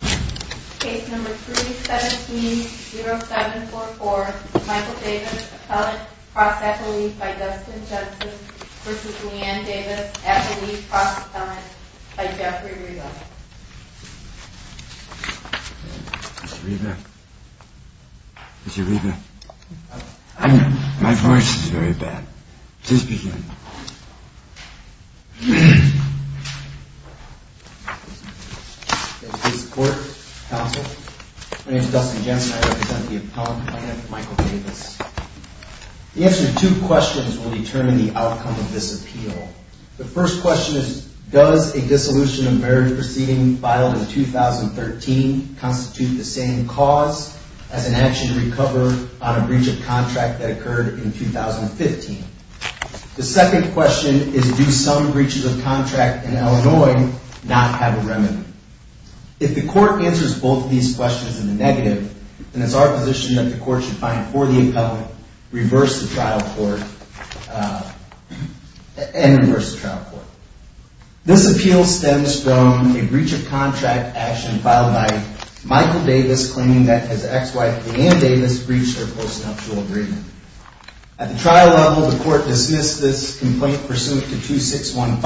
v. Leanne Davis at the lead cross appellate by Jeffrey Reba. Mr. Reba? Mr. Reba? My voice is very bad. Just begin. Thank you for your support, counsel. My name is Dustin Jensen. I represent the appellant client, Michael Davis. The answer to two questions will determine the outcome of this appeal. The first question is, does a dissolution of marriage proceeding filed in 2013 constitute the same cause as an action to recover on a breach of contract that occurred in 2015? The second question is, do some breaches of contract in Illinois not have a remedy? If the court answers both of these questions in the negative, then it's our position that the court should find for the appellant, reverse the trial court, and reverse the trial court. This appeal stems from a breach of contract action filed by Michael Davis claiming that his ex-wife, Leanne Davis, breached their post-nuptial agreement. At the trial level, the court dismissed this complaint pursuant to 2615,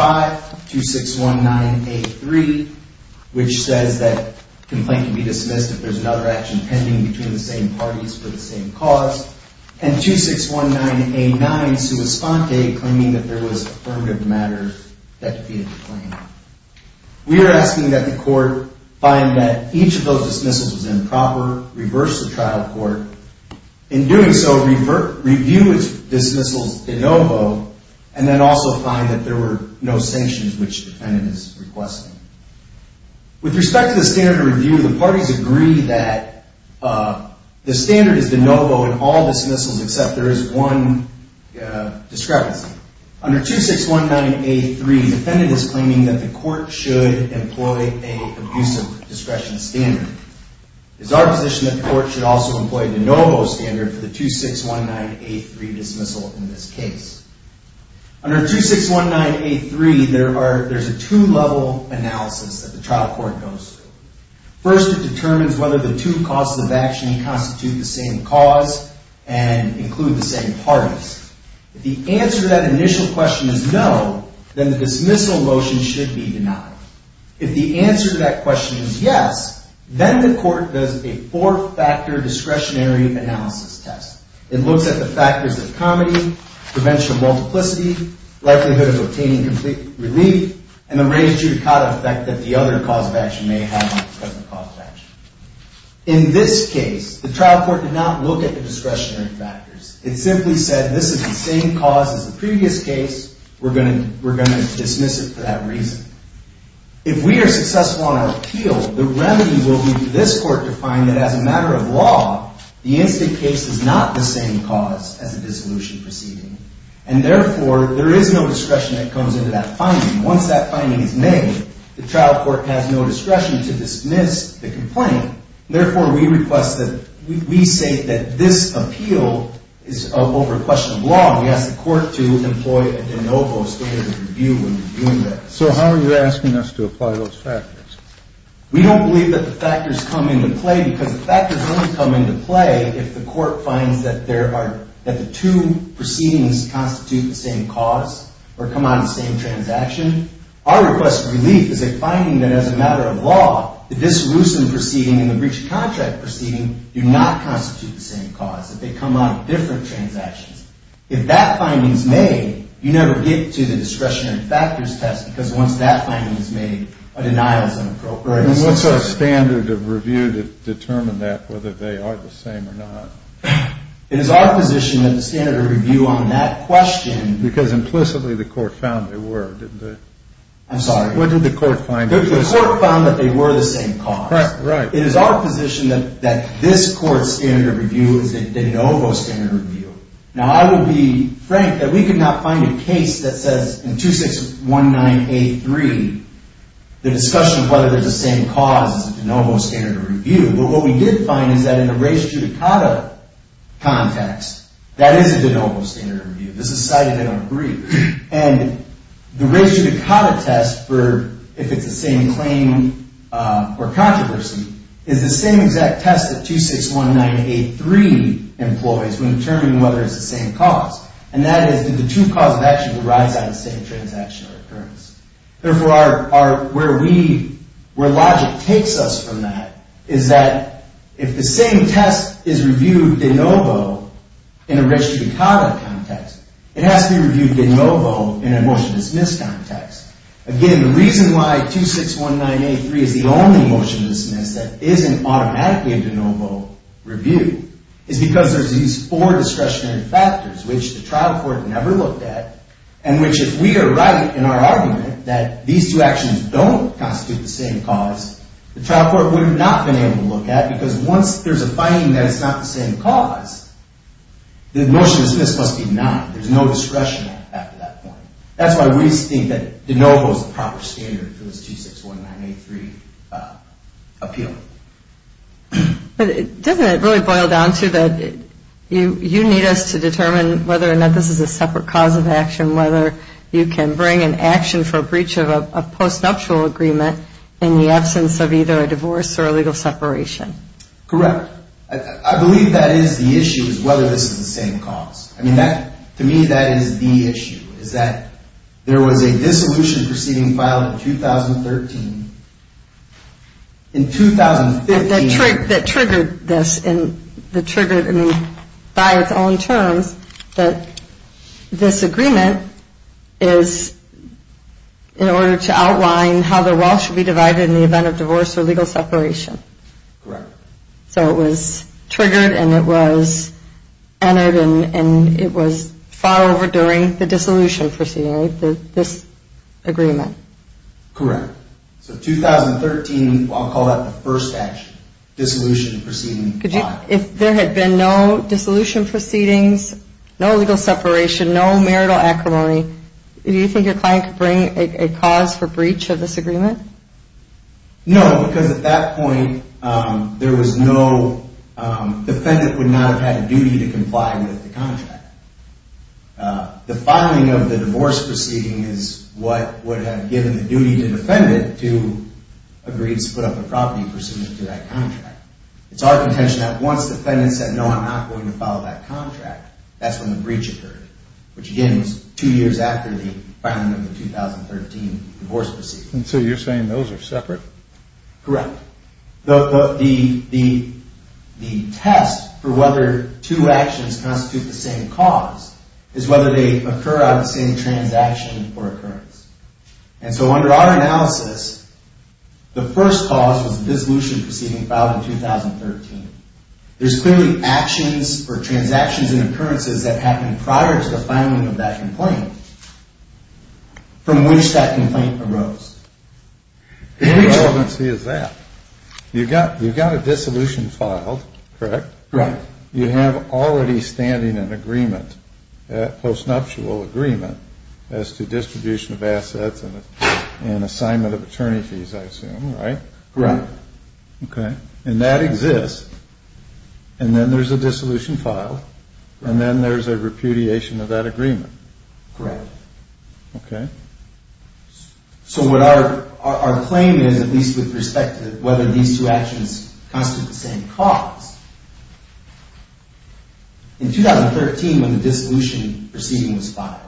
2619A3, which says that complaint can be dismissed if there's another action pending between the same parties for the same cause, and 2619A9, claiming that there was affirmative matter that defeated the claim. We are asking that the court find that each of those dismissals was improper, reverse the trial court. In doing so, review its dismissals de novo, and then also find that there were no sanctions which the defendant is requesting. With respect to the standard of review, the parties agree that the standard is de novo in all dismissals except there is one discrepancy. Under 2619A3, the defendant is claiming that the court should employ an abusive discretion standard. It is our position that the court should also employ a de novo standard for the 2619A3 dismissal in this case. Under 2619A3, there is a two-level analysis that the trial court goes through. First, it determines whether the two causes of action constitute the same cause and include the same parties. If the answer to that initial question is no, then the dismissal motion should be denied. If the answer to that question is yes, then the court does a four-factor discretionary analysis test. It looks at the factors of comedy, prevention of multiplicity, likelihood of obtaining complete relief, and the range of effect that the other cause of action may have on the present cause of action. In this case, the trial court did not look at the discretionary factors. It simply said, this is the same cause as the previous case. We're going to dismiss it for that reason. If we are successful in our appeal, the remedy will be for this court to find that as a matter of law, the incident case is not the same cause as the dissolution proceeding. And therefore, there is no discretion that comes into that finding. Once that finding is made, the trial court has no discretion to dismiss the complaint. Therefore, we say that this appeal is over a question of law, and we ask the court to employ a de novo, so there's a review when we're doing that. So how are you asking us to apply those factors? We don't believe that the factors come into play, because the factors only come into play if the court finds that the two proceedings constitute the same cause or come out of the same transaction. Our request of relief is a finding that as a matter of law, the dissolution proceeding and the breach of contract proceeding do not constitute the same cause, that they come out of different transactions. If that finding is made, you never get to the discretionary factors test, because once that finding is made, a denial is inappropriate. And what's our standard of review to determine that, whether they are the same or not? It is our position that the standard of review on that question... Because implicitly the court found they were, didn't it? I'm sorry. What did the court find? The court found that they were the same cause. Right, right. It is our position that this court's standard of review is a de novo standard of review. Now, I will be frank, that we could not find a case that says in 2619A3, the discussion of whether they're the same cause is a de novo standard of review. But what we did find is that in the res judicata context, that is a de novo standard of review. This is cited in our brief. And the res judicata test, if it's the same claim or controversy, is the same exact test that 2619A3 employs when determining whether it's the same cause. And that is, did the true cause of action arise out of the same transaction or occurrence? Therefore, where logic takes us from that is that if the same test is reviewed de novo in a res judicata context, it has to be reviewed de novo in a motion to dismiss context. Again, the reason why 2619A3 is the only motion to dismiss that isn't automatically a de novo review is because there's these four discretionary factors, which the trial court never looked at, and which if we are right in our argument that these two actions don't constitute the same cause, the trial court would have not been able to look at because once there's a finding that it's not the same cause, the motion to dismiss must be denied. There's no discretion after that point. That's why we think that de novo is the proper standard for this 2619A3 appeal. But doesn't it really boil down to that you need us to determine whether or not this is a separate cause of action, whether you can bring an action for breach of a post-nuptial agreement in the absence of either a divorce or a legal separation? Correct. I believe that is the issue, is whether this is the same cause. I mean, to me, that is the issue, is that there was a dissolution proceeding filed in 2013. In 2015. That triggered this, that triggered, I mean, by its own terms, that this agreement is in order to outline how the wall should be divided in the event of divorce or legal separation. Correct. So it was triggered and it was entered and it was filed over during the dissolution proceeding, this agreement. Correct. So 2013, I'll call that the first action, dissolution proceeding filed. If there had been no dissolution proceedings, no legal separation, no marital acrimony, do you think your client could bring a cause for breach of this agreement? No, because at that point, there was no, the defendant would not have had a duty to comply with the contract. The filing of the divorce proceeding is what would have given the duty to the defendant to agree to split up the property pursuant to that contract. It's our contention that once the defendant said, no, I'm not going to follow that contract, that's when the breach occurred, which, again, was two years after the filing of the 2013 divorce proceeding. So you're saying those are separate? Correct. The test for whether two actions constitute the same cause is whether they occur on the same transaction or occurrence. And so under our analysis, the first cause was the dissolution proceeding filed in 2013. There's clearly actions or transactions and occurrences that happened prior to the filing of that complaint from which that complaint arose. What relevancy is that? You've got a dissolution filed, correct? Correct. You have already standing an agreement, postnuptial agreement, as to distribution of assets and assignment of attorney fees, I assume, right? Correct. Okay. And that exists, and then there's a dissolution filed, and then there's a repudiation of that agreement. Correct. Okay. So what our claim is, at least with respect to whether these two actions constitute the same cause, in 2013, when the dissolution proceeding was filed,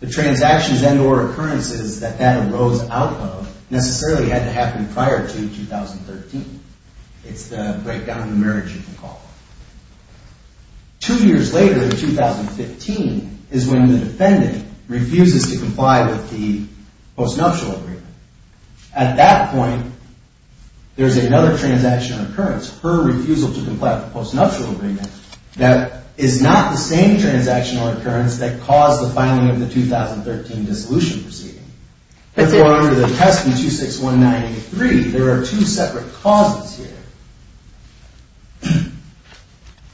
the transactions and or occurrences that that arose out of necessarily had to happen prior to 2013. It's the breakdown of the marriage, you can call it. Two years later, in 2015, is when the defendant refuses to comply with the postnuptial agreement. At that point, there's another transaction or occurrence, her refusal to comply with the postnuptial agreement, that is not the same transaction or occurrence that caused the filing of the 2013 dissolution proceeding. Therefore, under the testament 26193, there are two separate causes here.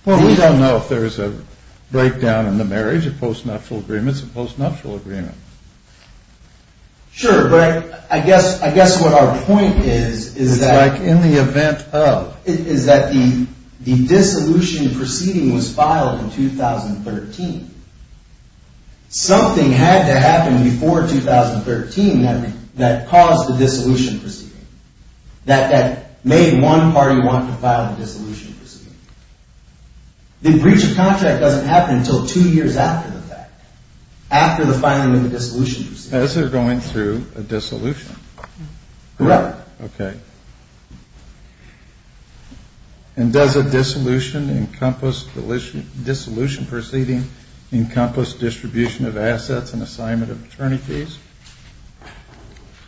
Well, we don't know if there's a breakdown in the marriage, a postnuptial agreement, a postnuptial agreement. Sure, but I guess what our point is, is that. It's like in the event of. The dissolution proceeding was filed in 2013. Something had to happen before 2013 that caused the dissolution proceeding, that made one party want to file the dissolution proceeding. The breach of contract doesn't happen until two years after the fact, after the filing of the dissolution proceeding. As they're going through a dissolution. Correct. Okay. And does a dissolution proceeding encompass distribution of assets and assignment of attorney fees?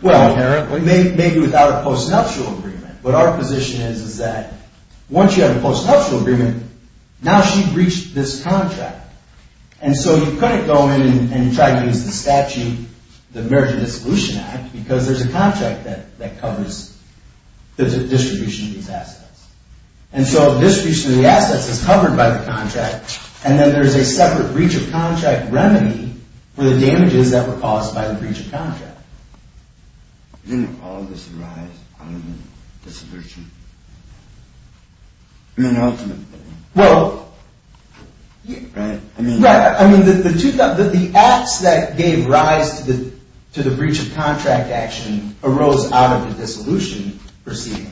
Well, maybe without a postnuptial agreement, but our position is that once you have a postnuptial agreement, now she breached this contract. And so you couldn't go in and try to use the statute, the Marriage and Dissolution Act, because there's a contract that covers the distribution of these assets. And so distribution of the assets is covered by the contract, and then there's a separate breach of contract remedy for the damages that were caused by the breach of contract. Didn't all of this arise out of the dissolution? I mean, ultimately. Well, I mean, the acts that gave rise to the breach of contract action arose out of the dissolution proceeding.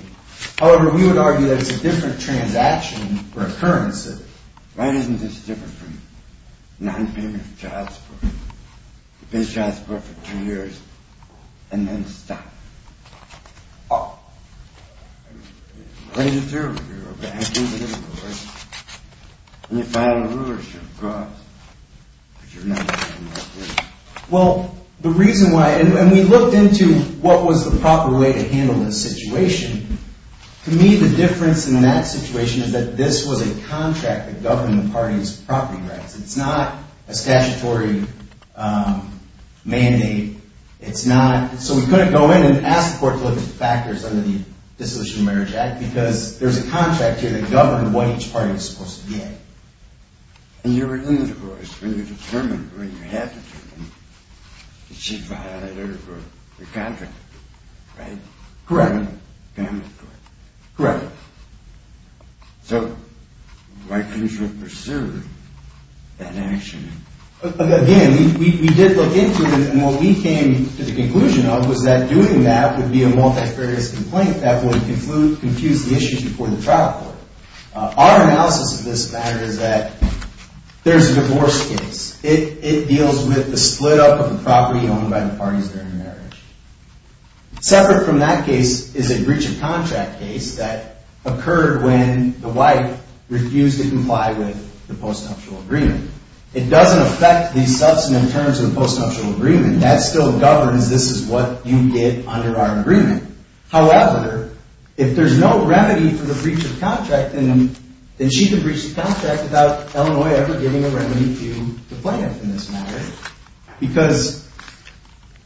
However, we would argue that it's a different transaction or occurrence. Why isn't this different from non-payment of child support? You pay child support for two years and then stop. Well, the reason why – and we looked into what was the proper way to handle this situation. To me, the difference in that situation is that this was a contract that governed the party's property rights. It's not a statutory mandate. So we couldn't go in and ask the court to look at the factors under the Dissolution and Marriage Act, because there's a contract here that governed what each party was supposed to get. And you were in the divorce when you determined, when you had determined, that she violated the contract, right? Correct. Correct. Correct. So why couldn't you have pursued that action? Again, we did look into it, and what we came to the conclusion of was that doing that would be a multifarious complaint that would confuse the issue before the trial court. Our analysis of this matter is that there's a divorce case. It deals with the split-up of the property owned by the parties during marriage. Separate from that case is a breach of contract case that occurred when the wife refused to comply with the postnuptial agreement. It doesn't affect the substantive terms of the postnuptial agreement. That still governs this is what you get under our agreement. However, if there's no remedy for the breach of contract, then she could breach the contract without Illinois ever giving a remedy to the plaintiff in this matter. Because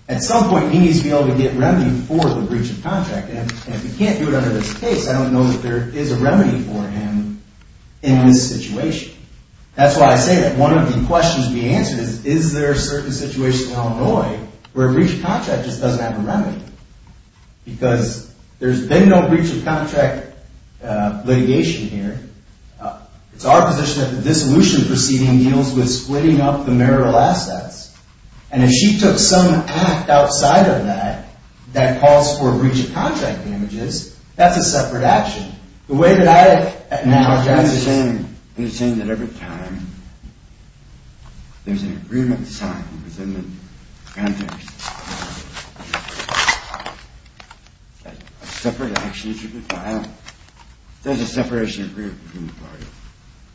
at some point, he needs to be able to get remedy for the breach of contract. And if we can't do it under this case, I don't know that there is a remedy for him in this situation. That's why I say that one of the questions to be answered is, is there a certain situation in Illinois where a breach of contract just doesn't have a remedy? Because there's been no breach of contract litigation here. It's our position that the dissolution proceeding deals with splitting up the marital assets. And if she took some act outside of that that calls for a breach of contract damages, that's a separate action. He's saying that every time there's an agreement signed within the context of a separate action to be filed, there's a separation agreed between the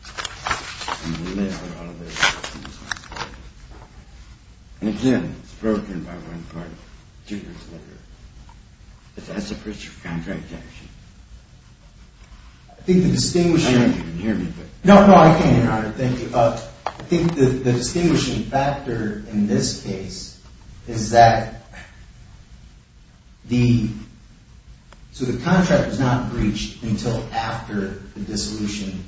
parties. And again, it's broken by one party two years later. That's a breach of contract, actually. I think the distinguishing factor in this case is that the contract was not breached until after the dissolution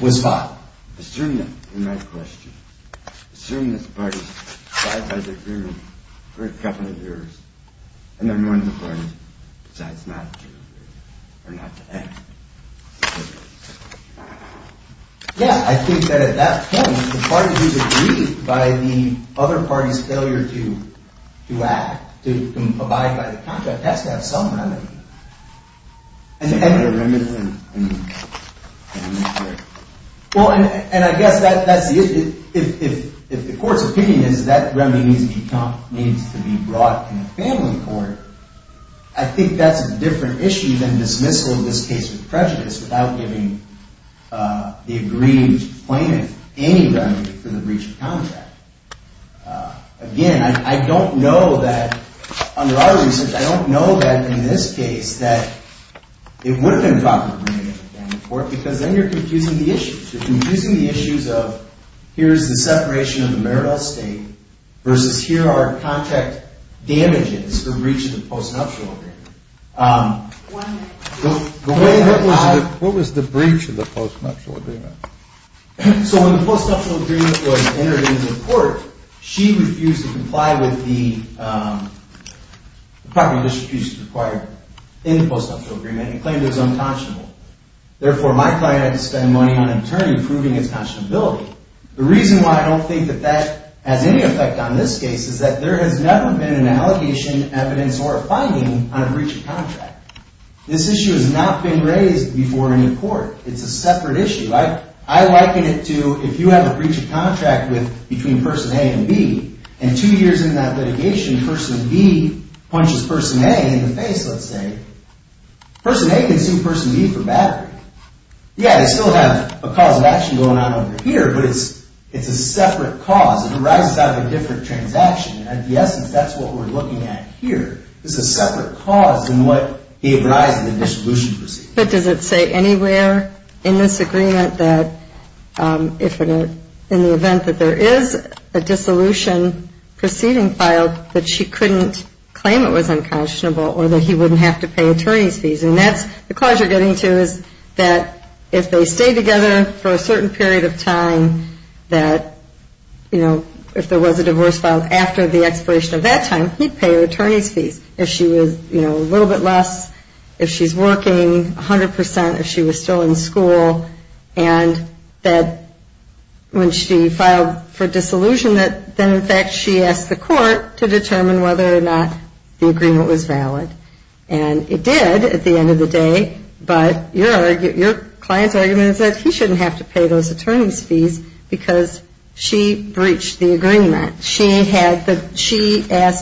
was filed. Assuming that, in my question, assuming that the parties abide by the agreement for a couple of years, and then when the parties decide not to agree or not to act. Yeah, I think that at that point, the parties who agreed by the other parties' failure to act, to abide by the contract, has to have some remedy. And I guess that's the issue. If the court's opinion is that remedy needs to be brought in a family court, I think that's a different issue than dismissal of this case with prejudice without giving the agreed plaintiff any remedy for the breach of contract. Again, I don't know that, under our research, I don't know that in this case that it would have been brought in a family court, because then you're confusing the issues. You're confusing the issues of here's the separation of the marital estate versus here are contract damages for breach of the postnuptial agreement. What was the breach of the postnuptial agreement? So when the postnuptial agreement was entered into court, she refused to comply with the property distribution required in the postnuptial agreement and claimed it was unconscionable. Therefore, my client had to spend money on an attorney proving its conscionability. The reason why I don't think that that has any effect on this case is that there has never been an allegation, evidence, or a finding on a breach of contract. This issue has not been raised before any court. It's a separate issue. I liken it to if you have a breach of contract between person A and B, and two years into that litigation, person B punches person A in the face, let's say. Person A can sue person B for battery. Yeah, they still have a cause of action going on over here, but it's a separate cause. It arises out of a different transaction. At the essence, that's what we're looking at here. It's a separate cause in what arises in the dissolution proceeding. But does it say anywhere in this agreement that in the event that there is a dissolution proceeding filed that she couldn't claim it was unconscionable or that he wouldn't have to pay attorney's fees? And that's the cause you're getting to is that if they stay together for a certain period of time that, you know, if there was a divorce filed after the expiration of that time, he'd pay her attorney's fees. If she was, you know, a little bit less, if she's working 100 percent, if she was still in school, and that when she filed for dissolution, then in fact she asked the court to determine whether or not the agreement was valid. And it did at the end of the day, but your client's argument is that he shouldn't have to pay those attorney's fees because she breached the agreement. She asked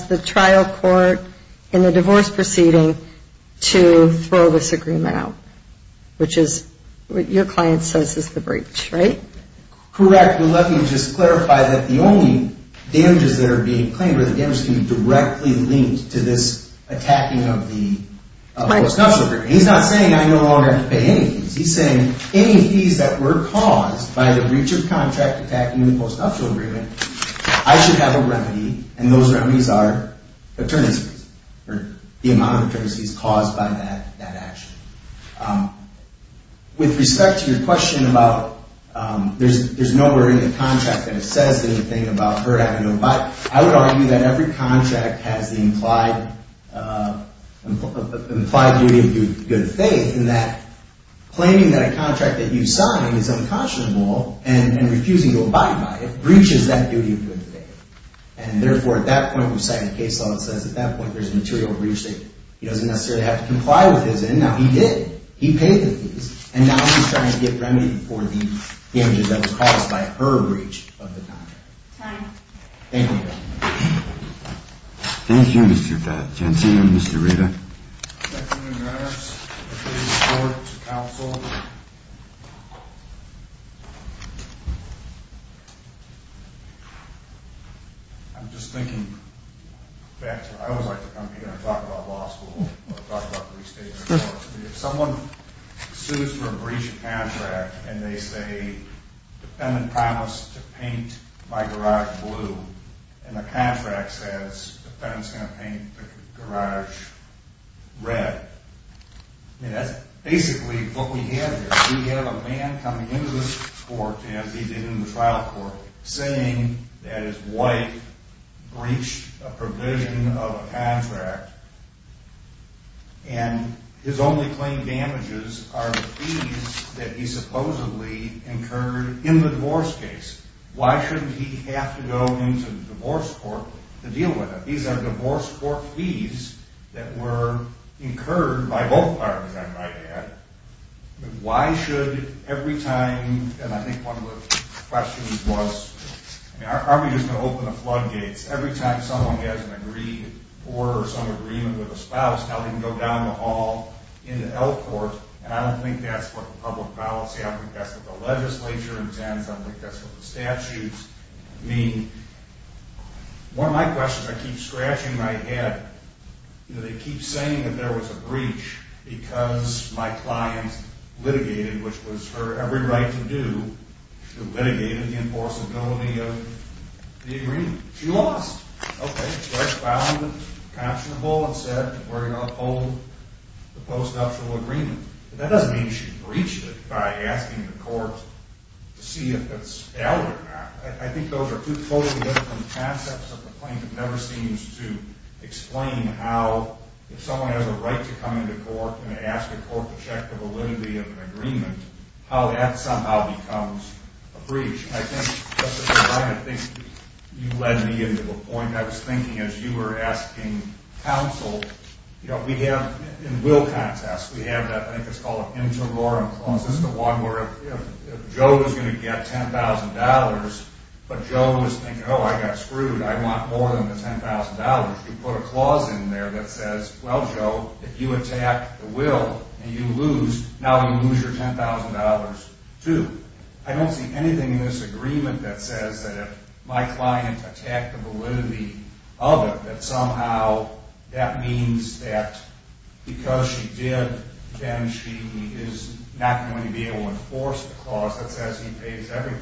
the trial court in the divorce proceeding to throw this agreement out, which is what your client says is the breach, right? Correct, but let me just clarify that the only damages that are being claimed are the damages that are being directly linked to this attacking of the post-nuptial agreement. He's not saying I no longer have to pay any fees. He's saying any fees that were caused by the breach of contract attacking the post-nuptial agreement, I should have a remedy, and those remedies are attorney's fees or the amount of attorney's fees caused by that action. With respect to your question about there's nowhere in the contract that it says anything about her having to abide, I would argue that every contract has the implied duty of good faith in that claiming that a contract that you signed is unconscionable and refusing to abide by it breaches that duty of good faith. And therefore, at that point, you sign a case law that says at that point there's a material breach that he doesn't necessarily have to comply with his end. Now, he did. He paid the fees, and now he's trying to get remedy for the damages that was caused by her breach of the contract. Time. Thank you. Thank you, Mr. Gatt. I can't see you, Mr. Reda. I'm just thinking, in fact, I always like to come here and talk about law school or talk about restatement. If someone sues for a breach of contract and they say the defendant promised to paint my garage blue and the contract says the defendant's going to paint the garage red, that's basically what we have here. We have a man coming into this court, as he did in the trial court, saying that his wife breached a provision of a contract, and his only claim damages are the fees that he supposedly incurred in the divorce case. Why shouldn't he have to go into the divorce court to deal with it? These are divorce court fees that were incurred by both parties, I might add. Why should, every time, and I think one of the questions was, are we just going to open the floodgates? Every time someone has an agreement with a spouse, now they can go down the hall in the L Court, and I don't think that's what the public policy, I think that's what the legislature intends, I think that's what the statutes mean. One of my questions I keep scratching my head, they keep saying that there was a breach because my client litigated, which was her every right to do, she litigated the enforceability of the agreement. She lost. Okay, so I found it constable and said we're going to uphold the post-nuptial agreement. That doesn't mean she breached it by asking the court to see if it's valid or not. I think those are two totally different concepts of the claim. It never seems to explain how, if someone has a right to come into court and ask the court to check the validity of an agreement, how that somehow becomes a breach. I think, Justice O'Brien, I think you led me into the point. I was thinking, as you were asking counsel, you know, we have, in will contests, we have that, I think it's called an interloran clause. This is the one where if Joe was going to get $10,000, but Joe was thinking, oh, I got screwed, I want more than the $10,000. You put a clause in there that says, well, Joe, if you attack the will and you lose, now you lose your $10,000 too. I don't see anything in this agreement that says that if my client attacked the validity of it, that somehow that means that because she did, then she is not going to be able to enforce the clause that says he pays everything.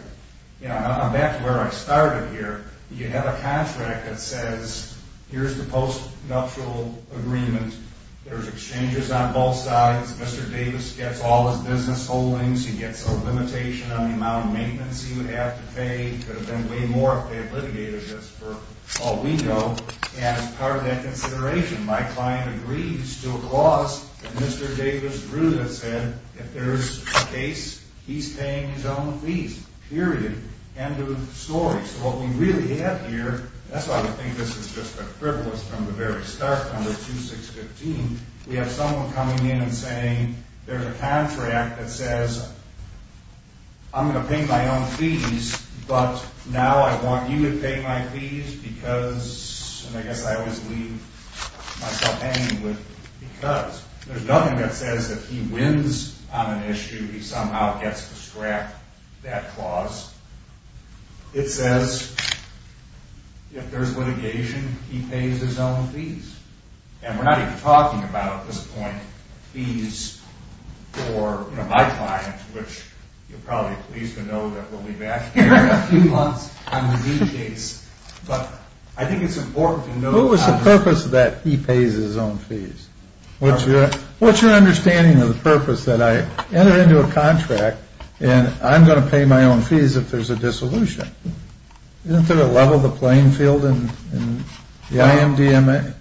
You know, I'm back to where I started here. You have a contract that says, here's the postnuptial agreement. There's exchanges on both sides. Mr. Davis gets all his business holdings. He gets a limitation on the amount of maintenance he would have to pay. He could have been way more if they had litigated this for all we know. And as part of that consideration, my client agrees to a clause that Mr. Davis drew that said if there's a case, he's paying his own fees, period. End of story. So what we really have here, that's why I think this is just a frivolous from the very start under 2615. We have someone coming in and saying there's a contract that says I'm going to pay my own fees, but now I want you to pay my fees because, and I guess I always leave myself hanging with because. There's nothing that says if he wins on an issue, he somehow gets to scrap that clause. It says if there's litigation, he pays his own fees. And we're not even talking about, at this point, fees for my client, which you're probably pleased to know that we'll be back here in a few months on the D case. But I think it's important to know. What was the purpose that he pays his own fees? What's your understanding of the purpose that I enter into a contract and I'm going to pay my own fees if there's a dissolution? Isn't there a level of the playing field in the IMDMA?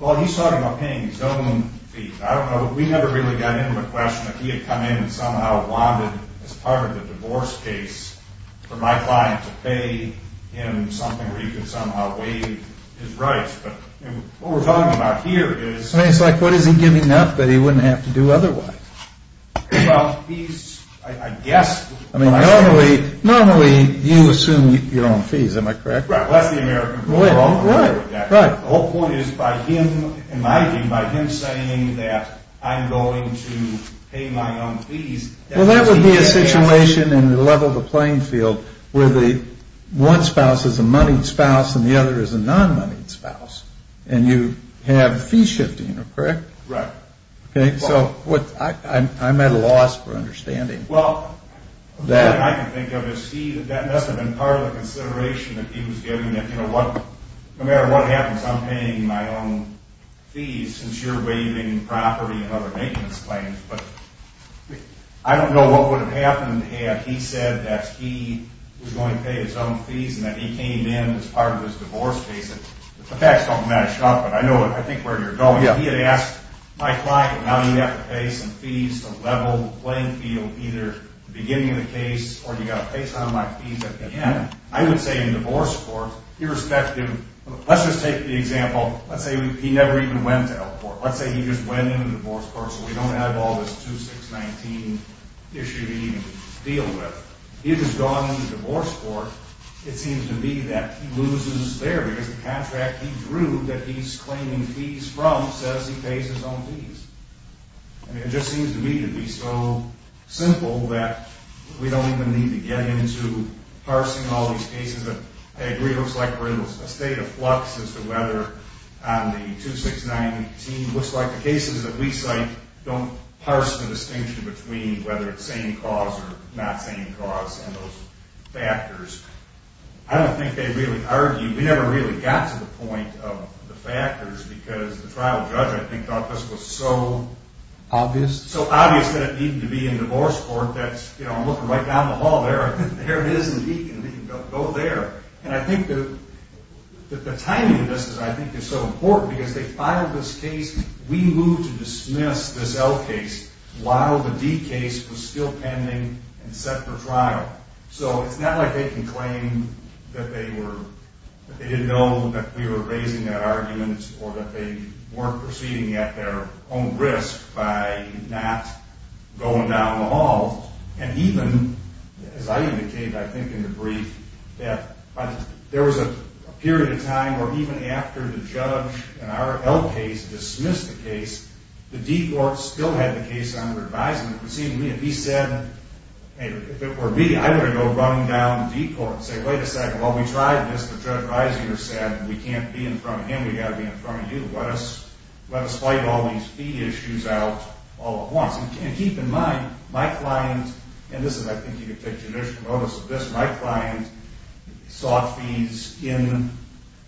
Well, he's talking about paying his own fees. I don't know. We never really got into the question that he had come in and somehow wanted as part of the divorce case for my client to pay him something where he could somehow waive his rights. But what we're talking about here is. I mean, it's like, what is he giving up that he wouldn't have to do otherwise? Well, he's, I guess. I mean, normally, normally you assume your own fees. Am I correct? Right. That's the American law. Right. The whole point is by him, in my view, by him saying that I'm going to pay my own fees. Well, that would be a situation in the level of the playing field where the one spouse is a moneyed spouse and the other is a non-moneyed spouse. And you have fee shifting. Correct? Right. So, I'm at a loss for understanding. Well, the only thing I can think of is that must have been part of the consideration that he was giving. No matter what happens, I'm paying my own fees since you're waiving property and other maintenance claims. But I don't know what would have happened had he said that he was going to pay his own fees and that he came in as part of this divorce case. The facts don't match up, but I think I know where you're going. Yeah. If he had asked my client, well, now you have to pay some fees to level the playing field either at the beginning of the case or you've got to pay some of my fees at the end. I would say in a divorce court, irrespective, let's just take the example, let's say he never even went to Elkport. Let's say he just went in a divorce court so we don't have all this 2-6-19 issue to even deal with. If he's gone in a divorce court, it seems to me that he loses there because the contract he drew that he's claiming fees from says he pays his own fees. I mean, it just seems to me to be so simple that we don't even need to get into parsing all these cases. I agree it looks like we're in a state of flux as to whether the 2-6-19 looks like the cases that we cite don't parse the distinction between whether it's same cause or not same cause and those factors. I don't think they really argue. We never really got to the point of the factors because the trial judge, I think, thought this was so obvious that it needed to be in divorce court. I'm looking right down the hall there. There it is indeed. Go there. And I think the timing of this, I think, is so important because they filed this case. We moved to dismiss this Elk case while the D case was still pending and set for trial. So it's not like they can claim that they didn't know that we were raising that argument or that they weren't proceeding at their own risk by not going down the hall. And even, as I indicated, I think in the brief, that there was a period of time where even after the judge in our Elk case dismissed the case, the D court still had the case under advisement. If he said, hey, if it were me, I would have gone running down the D court and said, wait a second, while we tried this, the judge risinger said, we can't be in front of him, we've got to be in front of you. Let us fight all these fee issues out all at once. And keep in mind, my client, and this is I think you can take judicial notice of this, my client sought fees in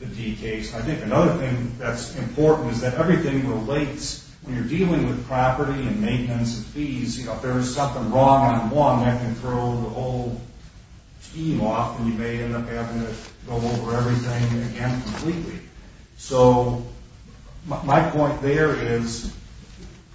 the D case. I think another thing that's important is that everything relates when you're dealing with property and maintenance and fees. If there is something wrong on one, that can throw the whole team off and you may end up having to go over everything again completely. So my point there is,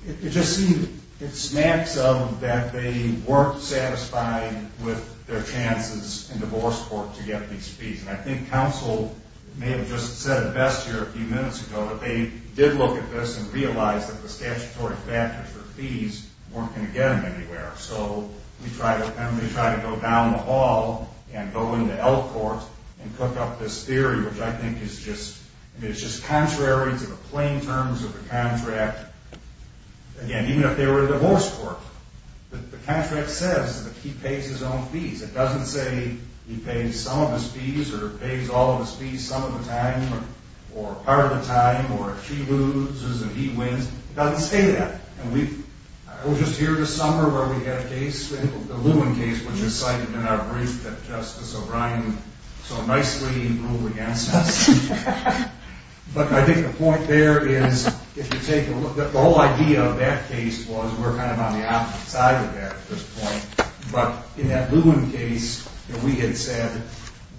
it just seems, it snaps up that they weren't satisfied with their chances in divorce court to get these fees. And I think counsel may have just said it best here a few minutes ago, but they did look at this and realized that the statutory factors for fees weren't going to get them anywhere. So we try to go down the hall and go into Elk court and cook up this theory, which I think is just, I mean, it's just contrary to the plain terms of the contract. Again, even if they were in divorce court, the contract says that he pays his own fees. It doesn't say he pays some of his fees or pays all of his fees some of the time or part of the time or if she loses and he wins. It doesn't say that. And we were just here this summer where we had a case, the Lewin case, which is cited in our brief that Justice O'Brien so nicely ruled against us. But I think the point there is, if you take a look, the whole idea of that case was we're kind of on the opposite side of that at this point. But in that Lewin case, we had said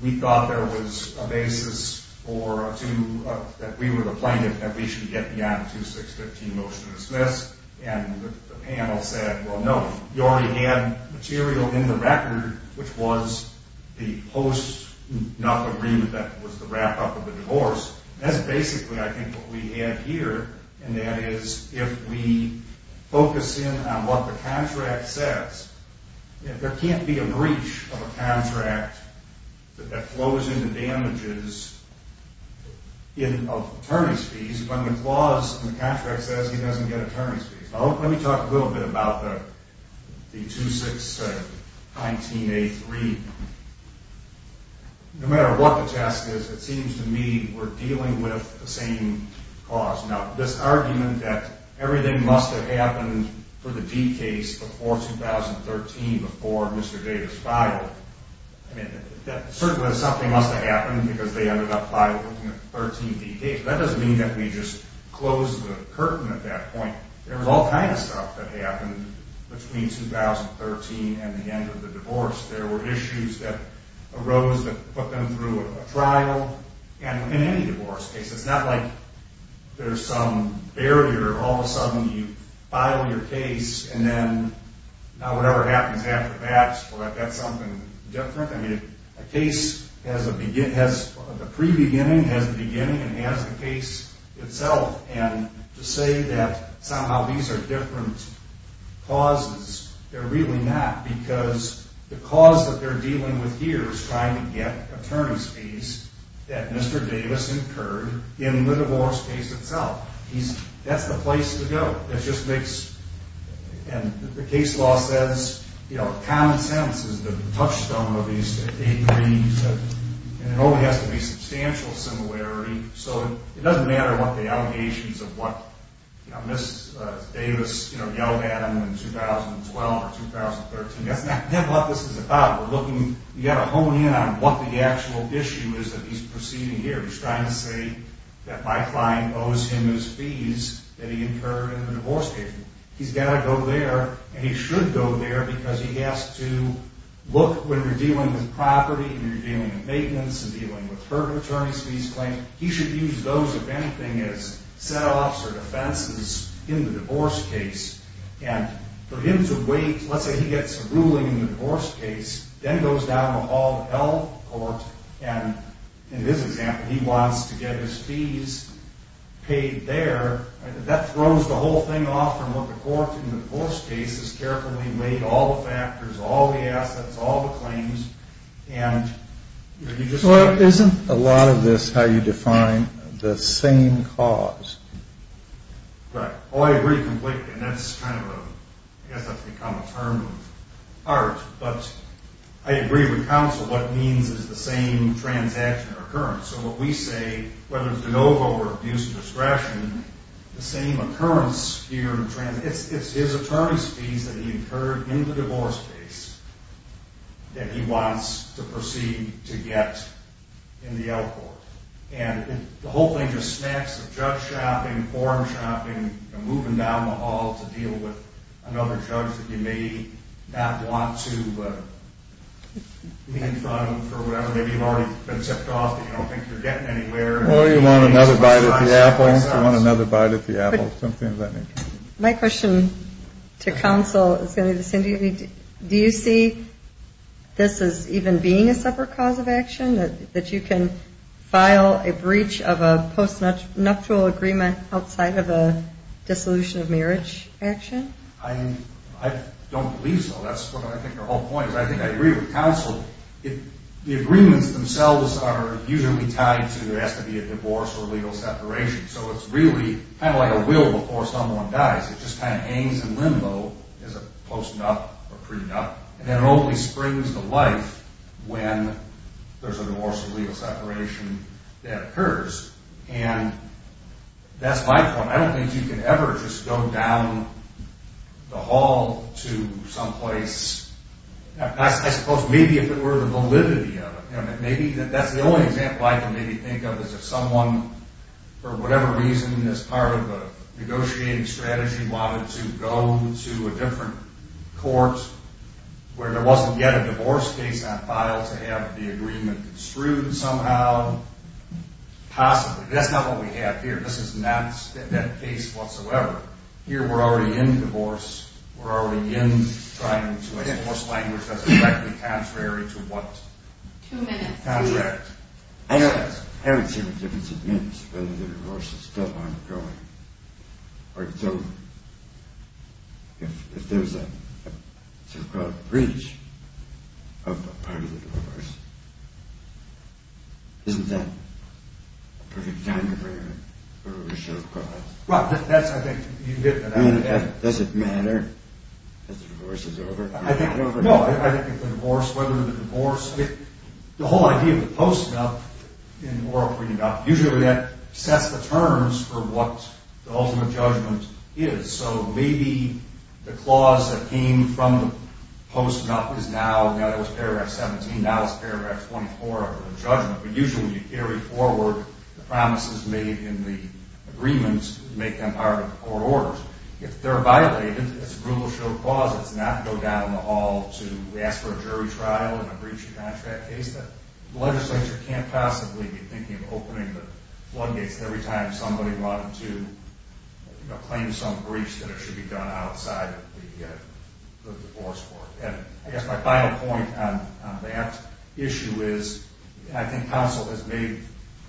we thought there was a basis for a two, that we were the plaintiff, that we should get beyond a 2-6-15 motion to dismiss. And the panel said, well, no, you already had material in the record, which was the post-nuff agreement that was the wrap-up of the divorce. That's basically, I think, what we have here, and that is if we focus in on what the contract says, there can't be a breach of a contract that flows into damages of attorney's fees when the clause in the contract says he doesn't get attorney's fees. Let me talk a little bit about the 2-6-19-A-3. No matter what the test is, it seems to me we're dealing with the same cause. Now, this argument that everything must have happened for the D case before 2013, before Mr. Davis filed, certainly something must have happened because they ended up filing the 13th D case. That doesn't mean that we just closed the curtain at that point. There was all kinds of stuff that happened between 2013 and the end of the divorce. There were issues that arose that put them through a trial. And in any divorce case, it's not like there's some barrier. All of a sudden, you file your case, and then now whatever happens after that, that's something different. I mean, a case has the pre-beginning, has the beginning, and has the case itself. And to say that somehow these are different causes, they're really not because the cause that they're dealing with here is trying to get attorney's fees that Mr. Davis incurred in the divorce case itself. That's the place to go. And the case law says, you know, common sense is the touchstone of these, and it only has to be substantial similarity. So it doesn't matter what the allegations of what Ms. Davis yelled at him in 2012 or 2013. That's not what this is about. We're looking – you've got to hone in on what the actual issue is that he's proceeding here. He's trying to say that my client owes him his fees that he incurred in the divorce case. He's got to go there, and he should go there because he has to look when you're dealing with property and you're dealing with maintenance and dealing with hurt attorney's fees claims. He should use those, if anything, as set-offs or defenses in the divorce case. And for him to wait – let's say he gets a ruling in the divorce case, then goes down the hall of health court, and in this example, he wants to get his fees paid there. That throws the whole thing off from what the court in the divorce case has carefully laid, all the factors, all the assets, all the claims. Well, isn't a lot of this how you define the same cause? Right. Oh, I agree completely, and that's kind of a – I guess that's become a term of art. But I agree with counsel what it means is the same transaction or occurrence. So what we say, whether it's de novo or abuse of discretion, the same occurrence here – it's his attorney's fees that he incurred in the divorce case that he wants to proceed to get in the L Court. And the whole thing's just snacks of drug shopping, porn shopping, and moving down the hall to deal with another judge that you may not want to meet in front of for whatever. Maybe you've already been tipped off, but you don't think you're getting anywhere. Or you want another bite at the apple. You want another bite at the apple. Something of that nature. My question to counsel is going to be the same. Do you see this as even being a separate cause of action, that you can file a breach of a postnuptial agreement outside of a dissolution of marriage action? I don't believe so. That's what I think your whole point is. But I think I agree with counsel. The agreements themselves are usually tied to whether it has to be a divorce or legal separation. So it's really kind of like a will before someone dies. It just kind of hangs in limbo as a postnup or prenup. And it only springs to life when there's a divorce or legal separation that occurs. And that's my point. I don't think you can ever just go down the hall to some place. I suppose maybe if it were the validity of it. Maybe that's the only example I can maybe think of is if someone, for whatever reason, as part of a negotiating strategy wanted to go to a different court where there wasn't yet a divorce case on file to have the agreement construed somehow. Possibly. That's not what we have here. This is not that case whatsoever. Here we're already in divorce. We're already in trying to enforce language that's exactly contrary to what? Two minutes. I haven't seen what difference it makes whether the divorce is still ongoing or if it's over. If there's a so-called breach of a part of the divorce, isn't that a perfect time to bring it over a show of cards? Does it matter if the divorce is over? No, I think if the divorce, whether the divorce, the whole idea of the post-nup in the oral freedom document, usually that sets the terms for what the ultimate judgment is. So maybe the clause that came from the post-nup is now, that was paragraph 17, now it's paragraph 24 of the judgment. But usually you carry forward the promises made in the agreement to make them part of the court orders. If they're violated, it's a brutal show of claws not to go down in the hall to ask for a jury trial in a breach of contract case. The legislature can't possibly be thinking of opening the floodgates every time somebody wanted to claim some breach that it should be done outside of the divorce court. I guess my final point on that issue is I think counsel has made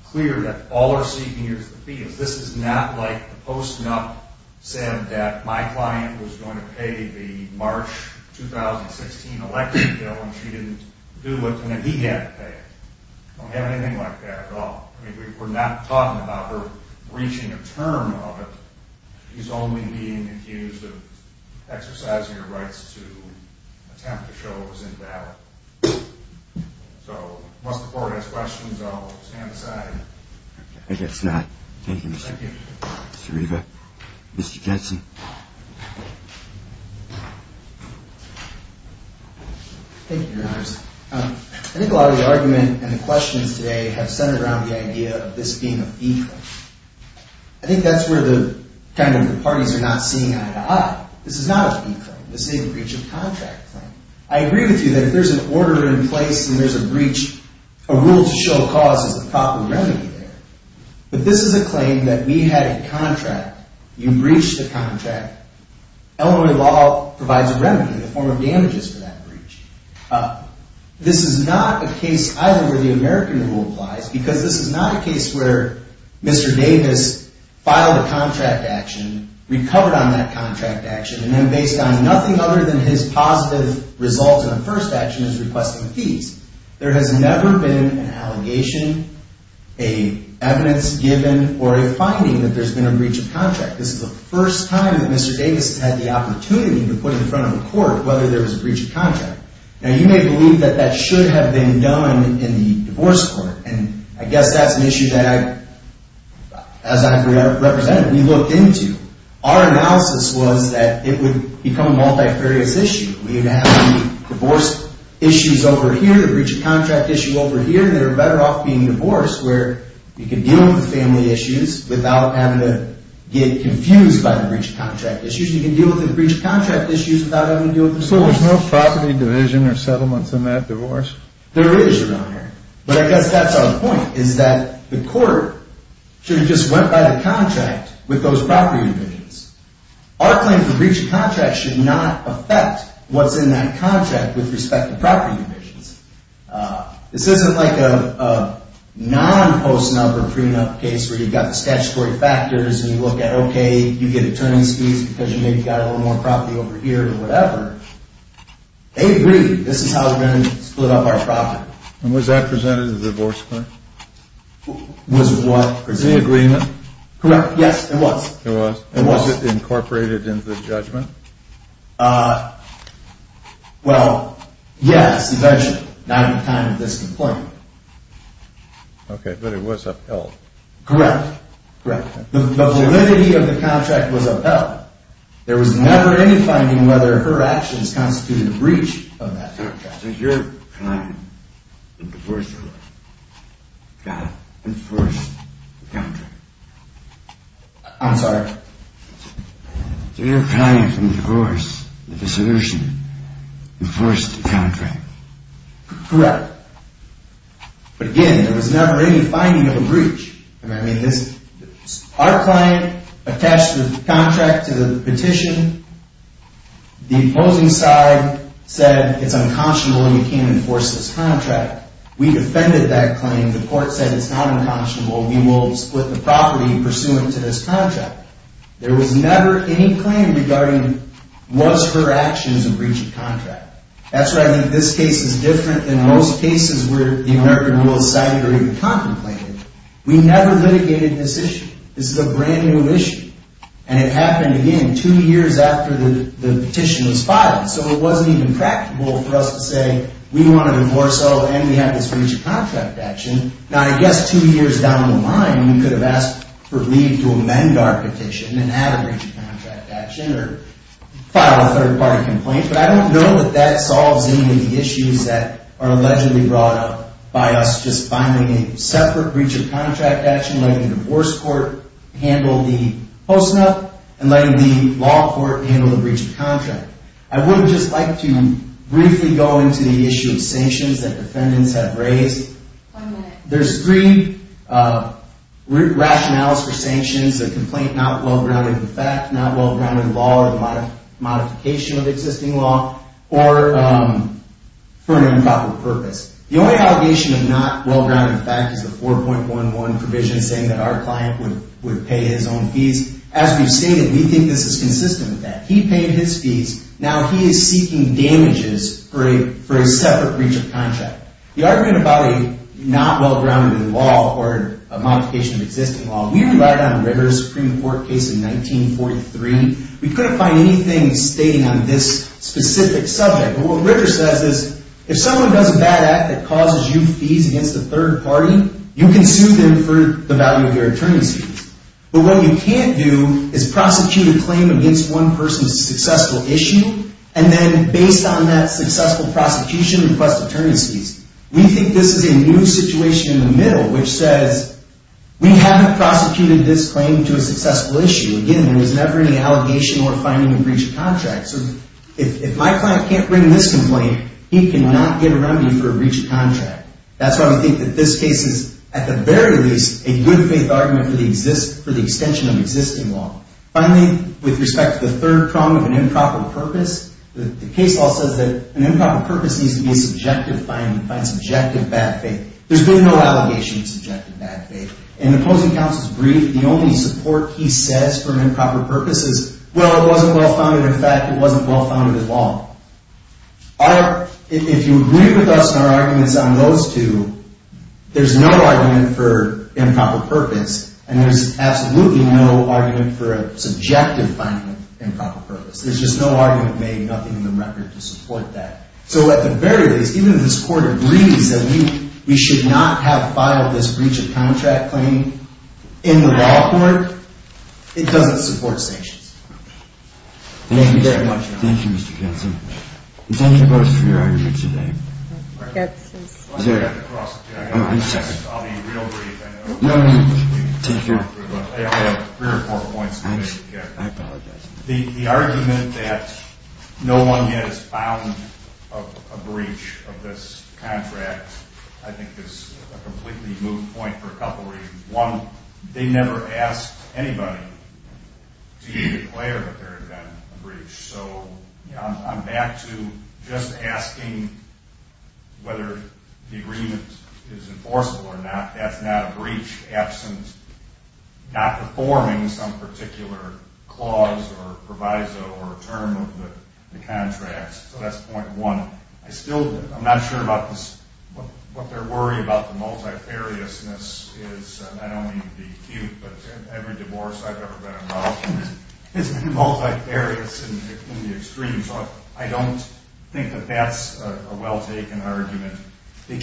clear that all we're seeking here is the fee. This is not like the post-nup said that my client was going to pay the March 2016 election bill and she didn't do what he had to pay. We don't have anything like that at all. We're not talking about her breaching a term of it. She's only being accused of exercising her rights to attempt to show it was invalid. So once the court has questions, I'll stand aside. I guess not. Thank you, Mr. Riva. Mr. Jensen. Thank you, Your Honors. I think a lot of the argument and the questions today have centered around the idea of this being a fee claim. I think that's where the parties are not seeing eye to eye. This is not a fee claim. This is a breach of contract claim. I agree with you that if there's an order in place and there's a breach, a rule to show cause is a proper remedy there. But this is a claim that we had a contract. You breached the contract. Illinois law provides a remedy in the form of damages for that breach. This is not a case either where the American rule applies because this is not a case where Mr. Davis filed a contract action, recovered on that contract action, and then based on nothing other than his positive results in the first action is requesting fees. There has never been an allegation, a evidence given, or a finding that there's been a breach of contract. This is the first time that Mr. Davis has had the opportunity to put in front of a court whether there was a breach of contract. Now, you may believe that that should have been done in the divorce court. And I guess that's an issue that, as I represented, we looked into. Our analysis was that it would become a multifarious issue. We would have the divorce issues over here, the breach of contract issue over here, and they're better off being divorced where you can deal with the family issues without having to get confused by the breach of contract issues. You can deal with the breach of contract issues without having to deal with the divorce issues. So there's no property division or settlements in that divorce? There is around here. But I guess that's our point is that the court should have just went by the contract with those property divisions. Our claim for breach of contract should not affect what's in that contract with respect to property divisions. This isn't like a non-post-number prenup case where you've got the statutory factors and you look at, okay, you get attorney's fees because you maybe got a little more property over here or whatever. They agree this is how we're going to split up our property. And was that presented to the divorce court? Was what presented? The agreement? Correct. Yes, it was. It was? It was. And was it incorporated into the judgment? Well, yes, eventually. Not at the time of this complaint. Okay, but it was upheld. Correct. Correct. The validity of the contract was upheld. There was never any finding whether her actions constituted a breach of that contract. So your client in the divorce court enforced the contract? I'm sorry? So your client in the divorce, the dissolution, enforced the contract? Correct. But again, there was never any finding of a breach. Our client attached the contract to the petition. The opposing side said it's unconscionable and you can't enforce this contract. We defended that claim. The court said it's not unconscionable. We will split the property pursuant to this contract. There was never any claim regarding was her actions a breach of contract. That's why I think this case is different than most cases where the American Rule is cited or even contemplated. We never litigated this issue. This is a brand-new issue. And it happened, again, two years after the petition was filed. So it wasn't even practical for us to say we want to enforce and we have this breach of contract action. Now, I guess two years down the line we could have asked for leave to amend our petition and have a breach of contract action or file a third-party complaint. But I don't know that that solves any of the issues that are allegedly brought up by us such as finding a separate breach of contract action, letting the divorce court handle the post-nup, and letting the law court handle the breach of contract. I would just like to briefly go into the issue of sanctions that defendants have raised. There's three rationales for sanctions, a complaint not well-grounded in the fact, not well-grounded in the law or the modification of existing law, or for an improper purpose. The only allegation of not well-grounded in the fact is the 4.11 provision saying that our client would pay his own fees. As we've stated, we think this is consistent with that. He paid his fees. Now he is seeking damages for a separate breach of contract. The argument about a not well-grounded in the law or a modification of existing law, we relied on Ritter's Supreme Court case in 1943. We couldn't find anything stating on this specific subject. But what Ritter says is if someone does a bad act that causes you fees against a third party, you can sue them for the value of your attorneys' fees. But what you can't do is prosecute a claim against one person's successful issue, and then based on that successful prosecution, request attorneys' fees. We think this is a new situation in the middle, which says we haven't prosecuted this claim to a successful issue. Again, there was never any allegation or finding a breach of contract. So if my client can't bring this complaint, he cannot get a remedy for a breach of contract. That's why we think that this case is, at the very least, a good-faith argument for the extension of existing law. Finally, with respect to the third prong of an improper purpose, the case law says that an improper purpose needs to be a subjective finding, find subjective bad faith. There's been no allegation of subjective bad faith. In the opposing counsel's brief, the only support he says for an improper purpose is, well, it wasn't well-founded, in fact, it wasn't well-founded at all. If you agree with us in our arguments on those two, there's no argument for improper purpose, and there's absolutely no argument for a subjective finding of improper purpose. There's just no argument made, nothing in the record to support that. So at the very least, even if this Court agrees that we should not have filed this breach of contract claim in the law court, it doesn't support sanctions. Thank you very much, Your Honor. Thank you, Mr. Ketson. Thank you both for your argument today. Mr. Ketson. I'll be real brief. No, no, no. Thank you. I have three or four points to make. I apologize. The argument that no one has filed a breach of this contract, I think, is a completely moot point for a couple reasons. One, they never asked anybody to declare that there had been a breach. So I'm back to just asking whether the agreement is enforceable or not. That's not a breach absent not performing some particular clause or proviso or term of the contracts. So that's point one. I'm not sure what their worry about the multifariousness is. I don't mean to be cute, but every divorce I've ever been involved in is multifarious in the extreme. So I don't think that that's a well-taken argument. They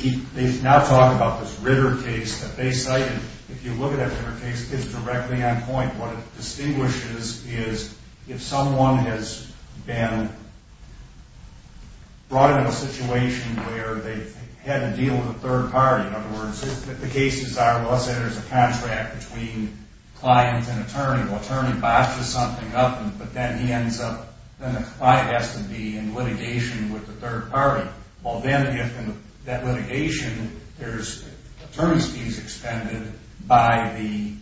now talk about this Ritter case that they cited. If you look at that Ritter case, it's directly on point. What it distinguishes is if someone has been brought into a situation where they've had to deal with a third party. In other words, if the cases are, let's say there's a contract between client and attorney. Well, attorney botches something up, but then he ends up, then the client has to be in litigation with the third party. Well, then if in that litigation there's attorney's fees expended by the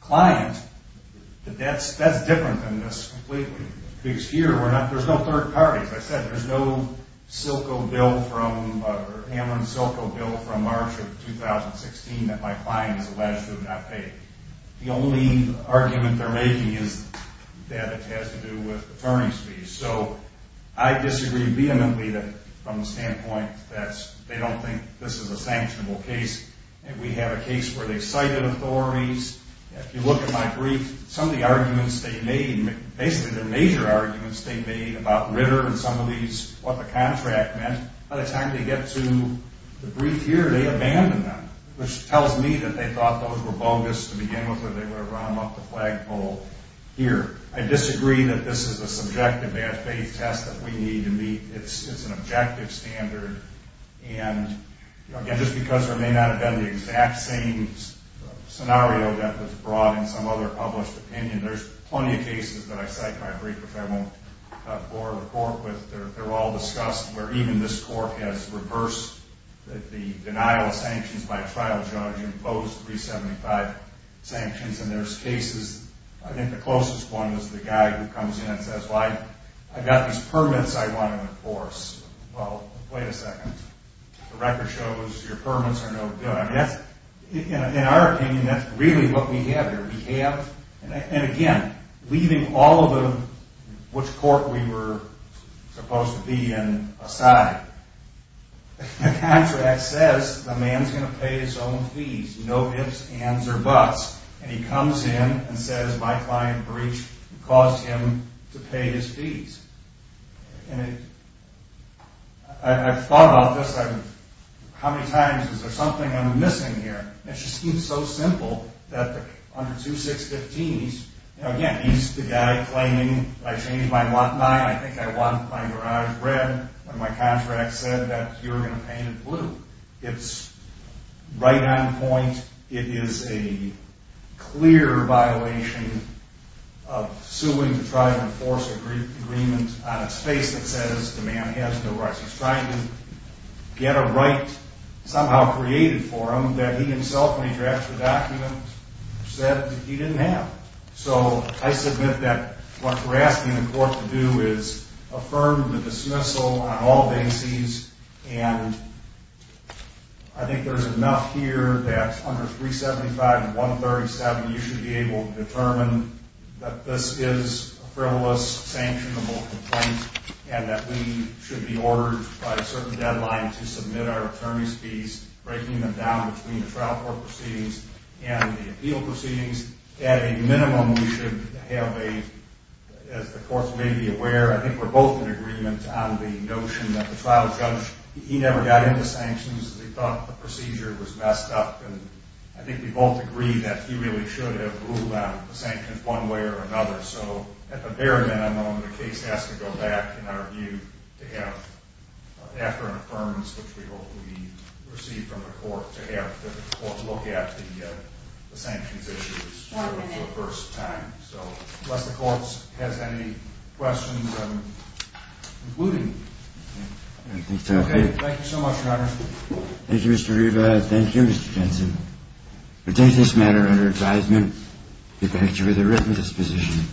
client, that's different than this completely. Because here, there's no third party. As I said, there's no Hamlin-Silko bill from March of 2016 that my client is alleged to have not paid. The only argument they're making is that it has to do with attorney's fees. So I disagree vehemently from the standpoint that they don't think this is a sanctionable case. We have a case where they cited authorities. If you look at my brief, some of the arguments they made, basically the major arguments they made about Ritter and some of these, what the contract meant. By the time they get to the brief here, they abandon them, which tells me that they thought those were bogus to begin with or they were to round up the flagpole here. I disagree that this is a subjective bad faith test that we need to meet. It's an objective standard. And again, just because there may not have been the exact same scenario that was brought in some other published opinion, there's plenty of cases that I cite in my brief which I won't bore the court with. They're all discussed where even this court has reversed the denial of sanctions by a trial judge and imposed 375 sanctions. And there's cases, I think the closest one was the guy who comes in and says, well, I've got these permits I want to enforce. Well, wait a second. The record shows your permits are no good. In our opinion, that's really what we have here. We have, and again, leaving all of which court we were supposed to be in aside, the contract says the man's going to pay his own fees, no ifs, ands, or buts. And he comes in and says my client breached and caused him to pay his fees. And I've thought about this. How many times is there something I'm missing here? It just seems so simple that under 2-6-15s, again, he's the guy claiming, I changed my lot nine. I think I want my garage red when my cash rack said that you were going to paint it blue. It's right on point. It is a clear violation of suing to try to enforce an agreement on its face that says the man has no rights. He's trying to get a right somehow created for him that he himself, when he drafts the document, said he didn't have. So I submit that what we're asking the court to do is affirm the dismissal on all bases and I think there's enough here that under 375 and 137, you should be able to determine that this is a frivolous, sanctionable complaint and that we should be ordered by a certain deadline to submit our attorney's fees, breaking them down between the trial court proceedings and the appeal proceedings. At a minimum, we should have a, as the courts may be aware, I think we're both in agreement on the notion that the trial judge, he never got into sanctions because he thought the procedure was messed up and I think we both agree that he really should have ruled out the sanctions one way or another. So at the very minimum, the case has to go back, in our view, to have after an affirmance which we hope will be received from the court to have the court look at the sanctions issues for the first time. So unless the court has any questions, including... Okay, thank you so much, Your Honor. Thank you, Mr. Riva. Thank you, Mr. Jensen. We take this matter under advisement. We thank you with a written disposition.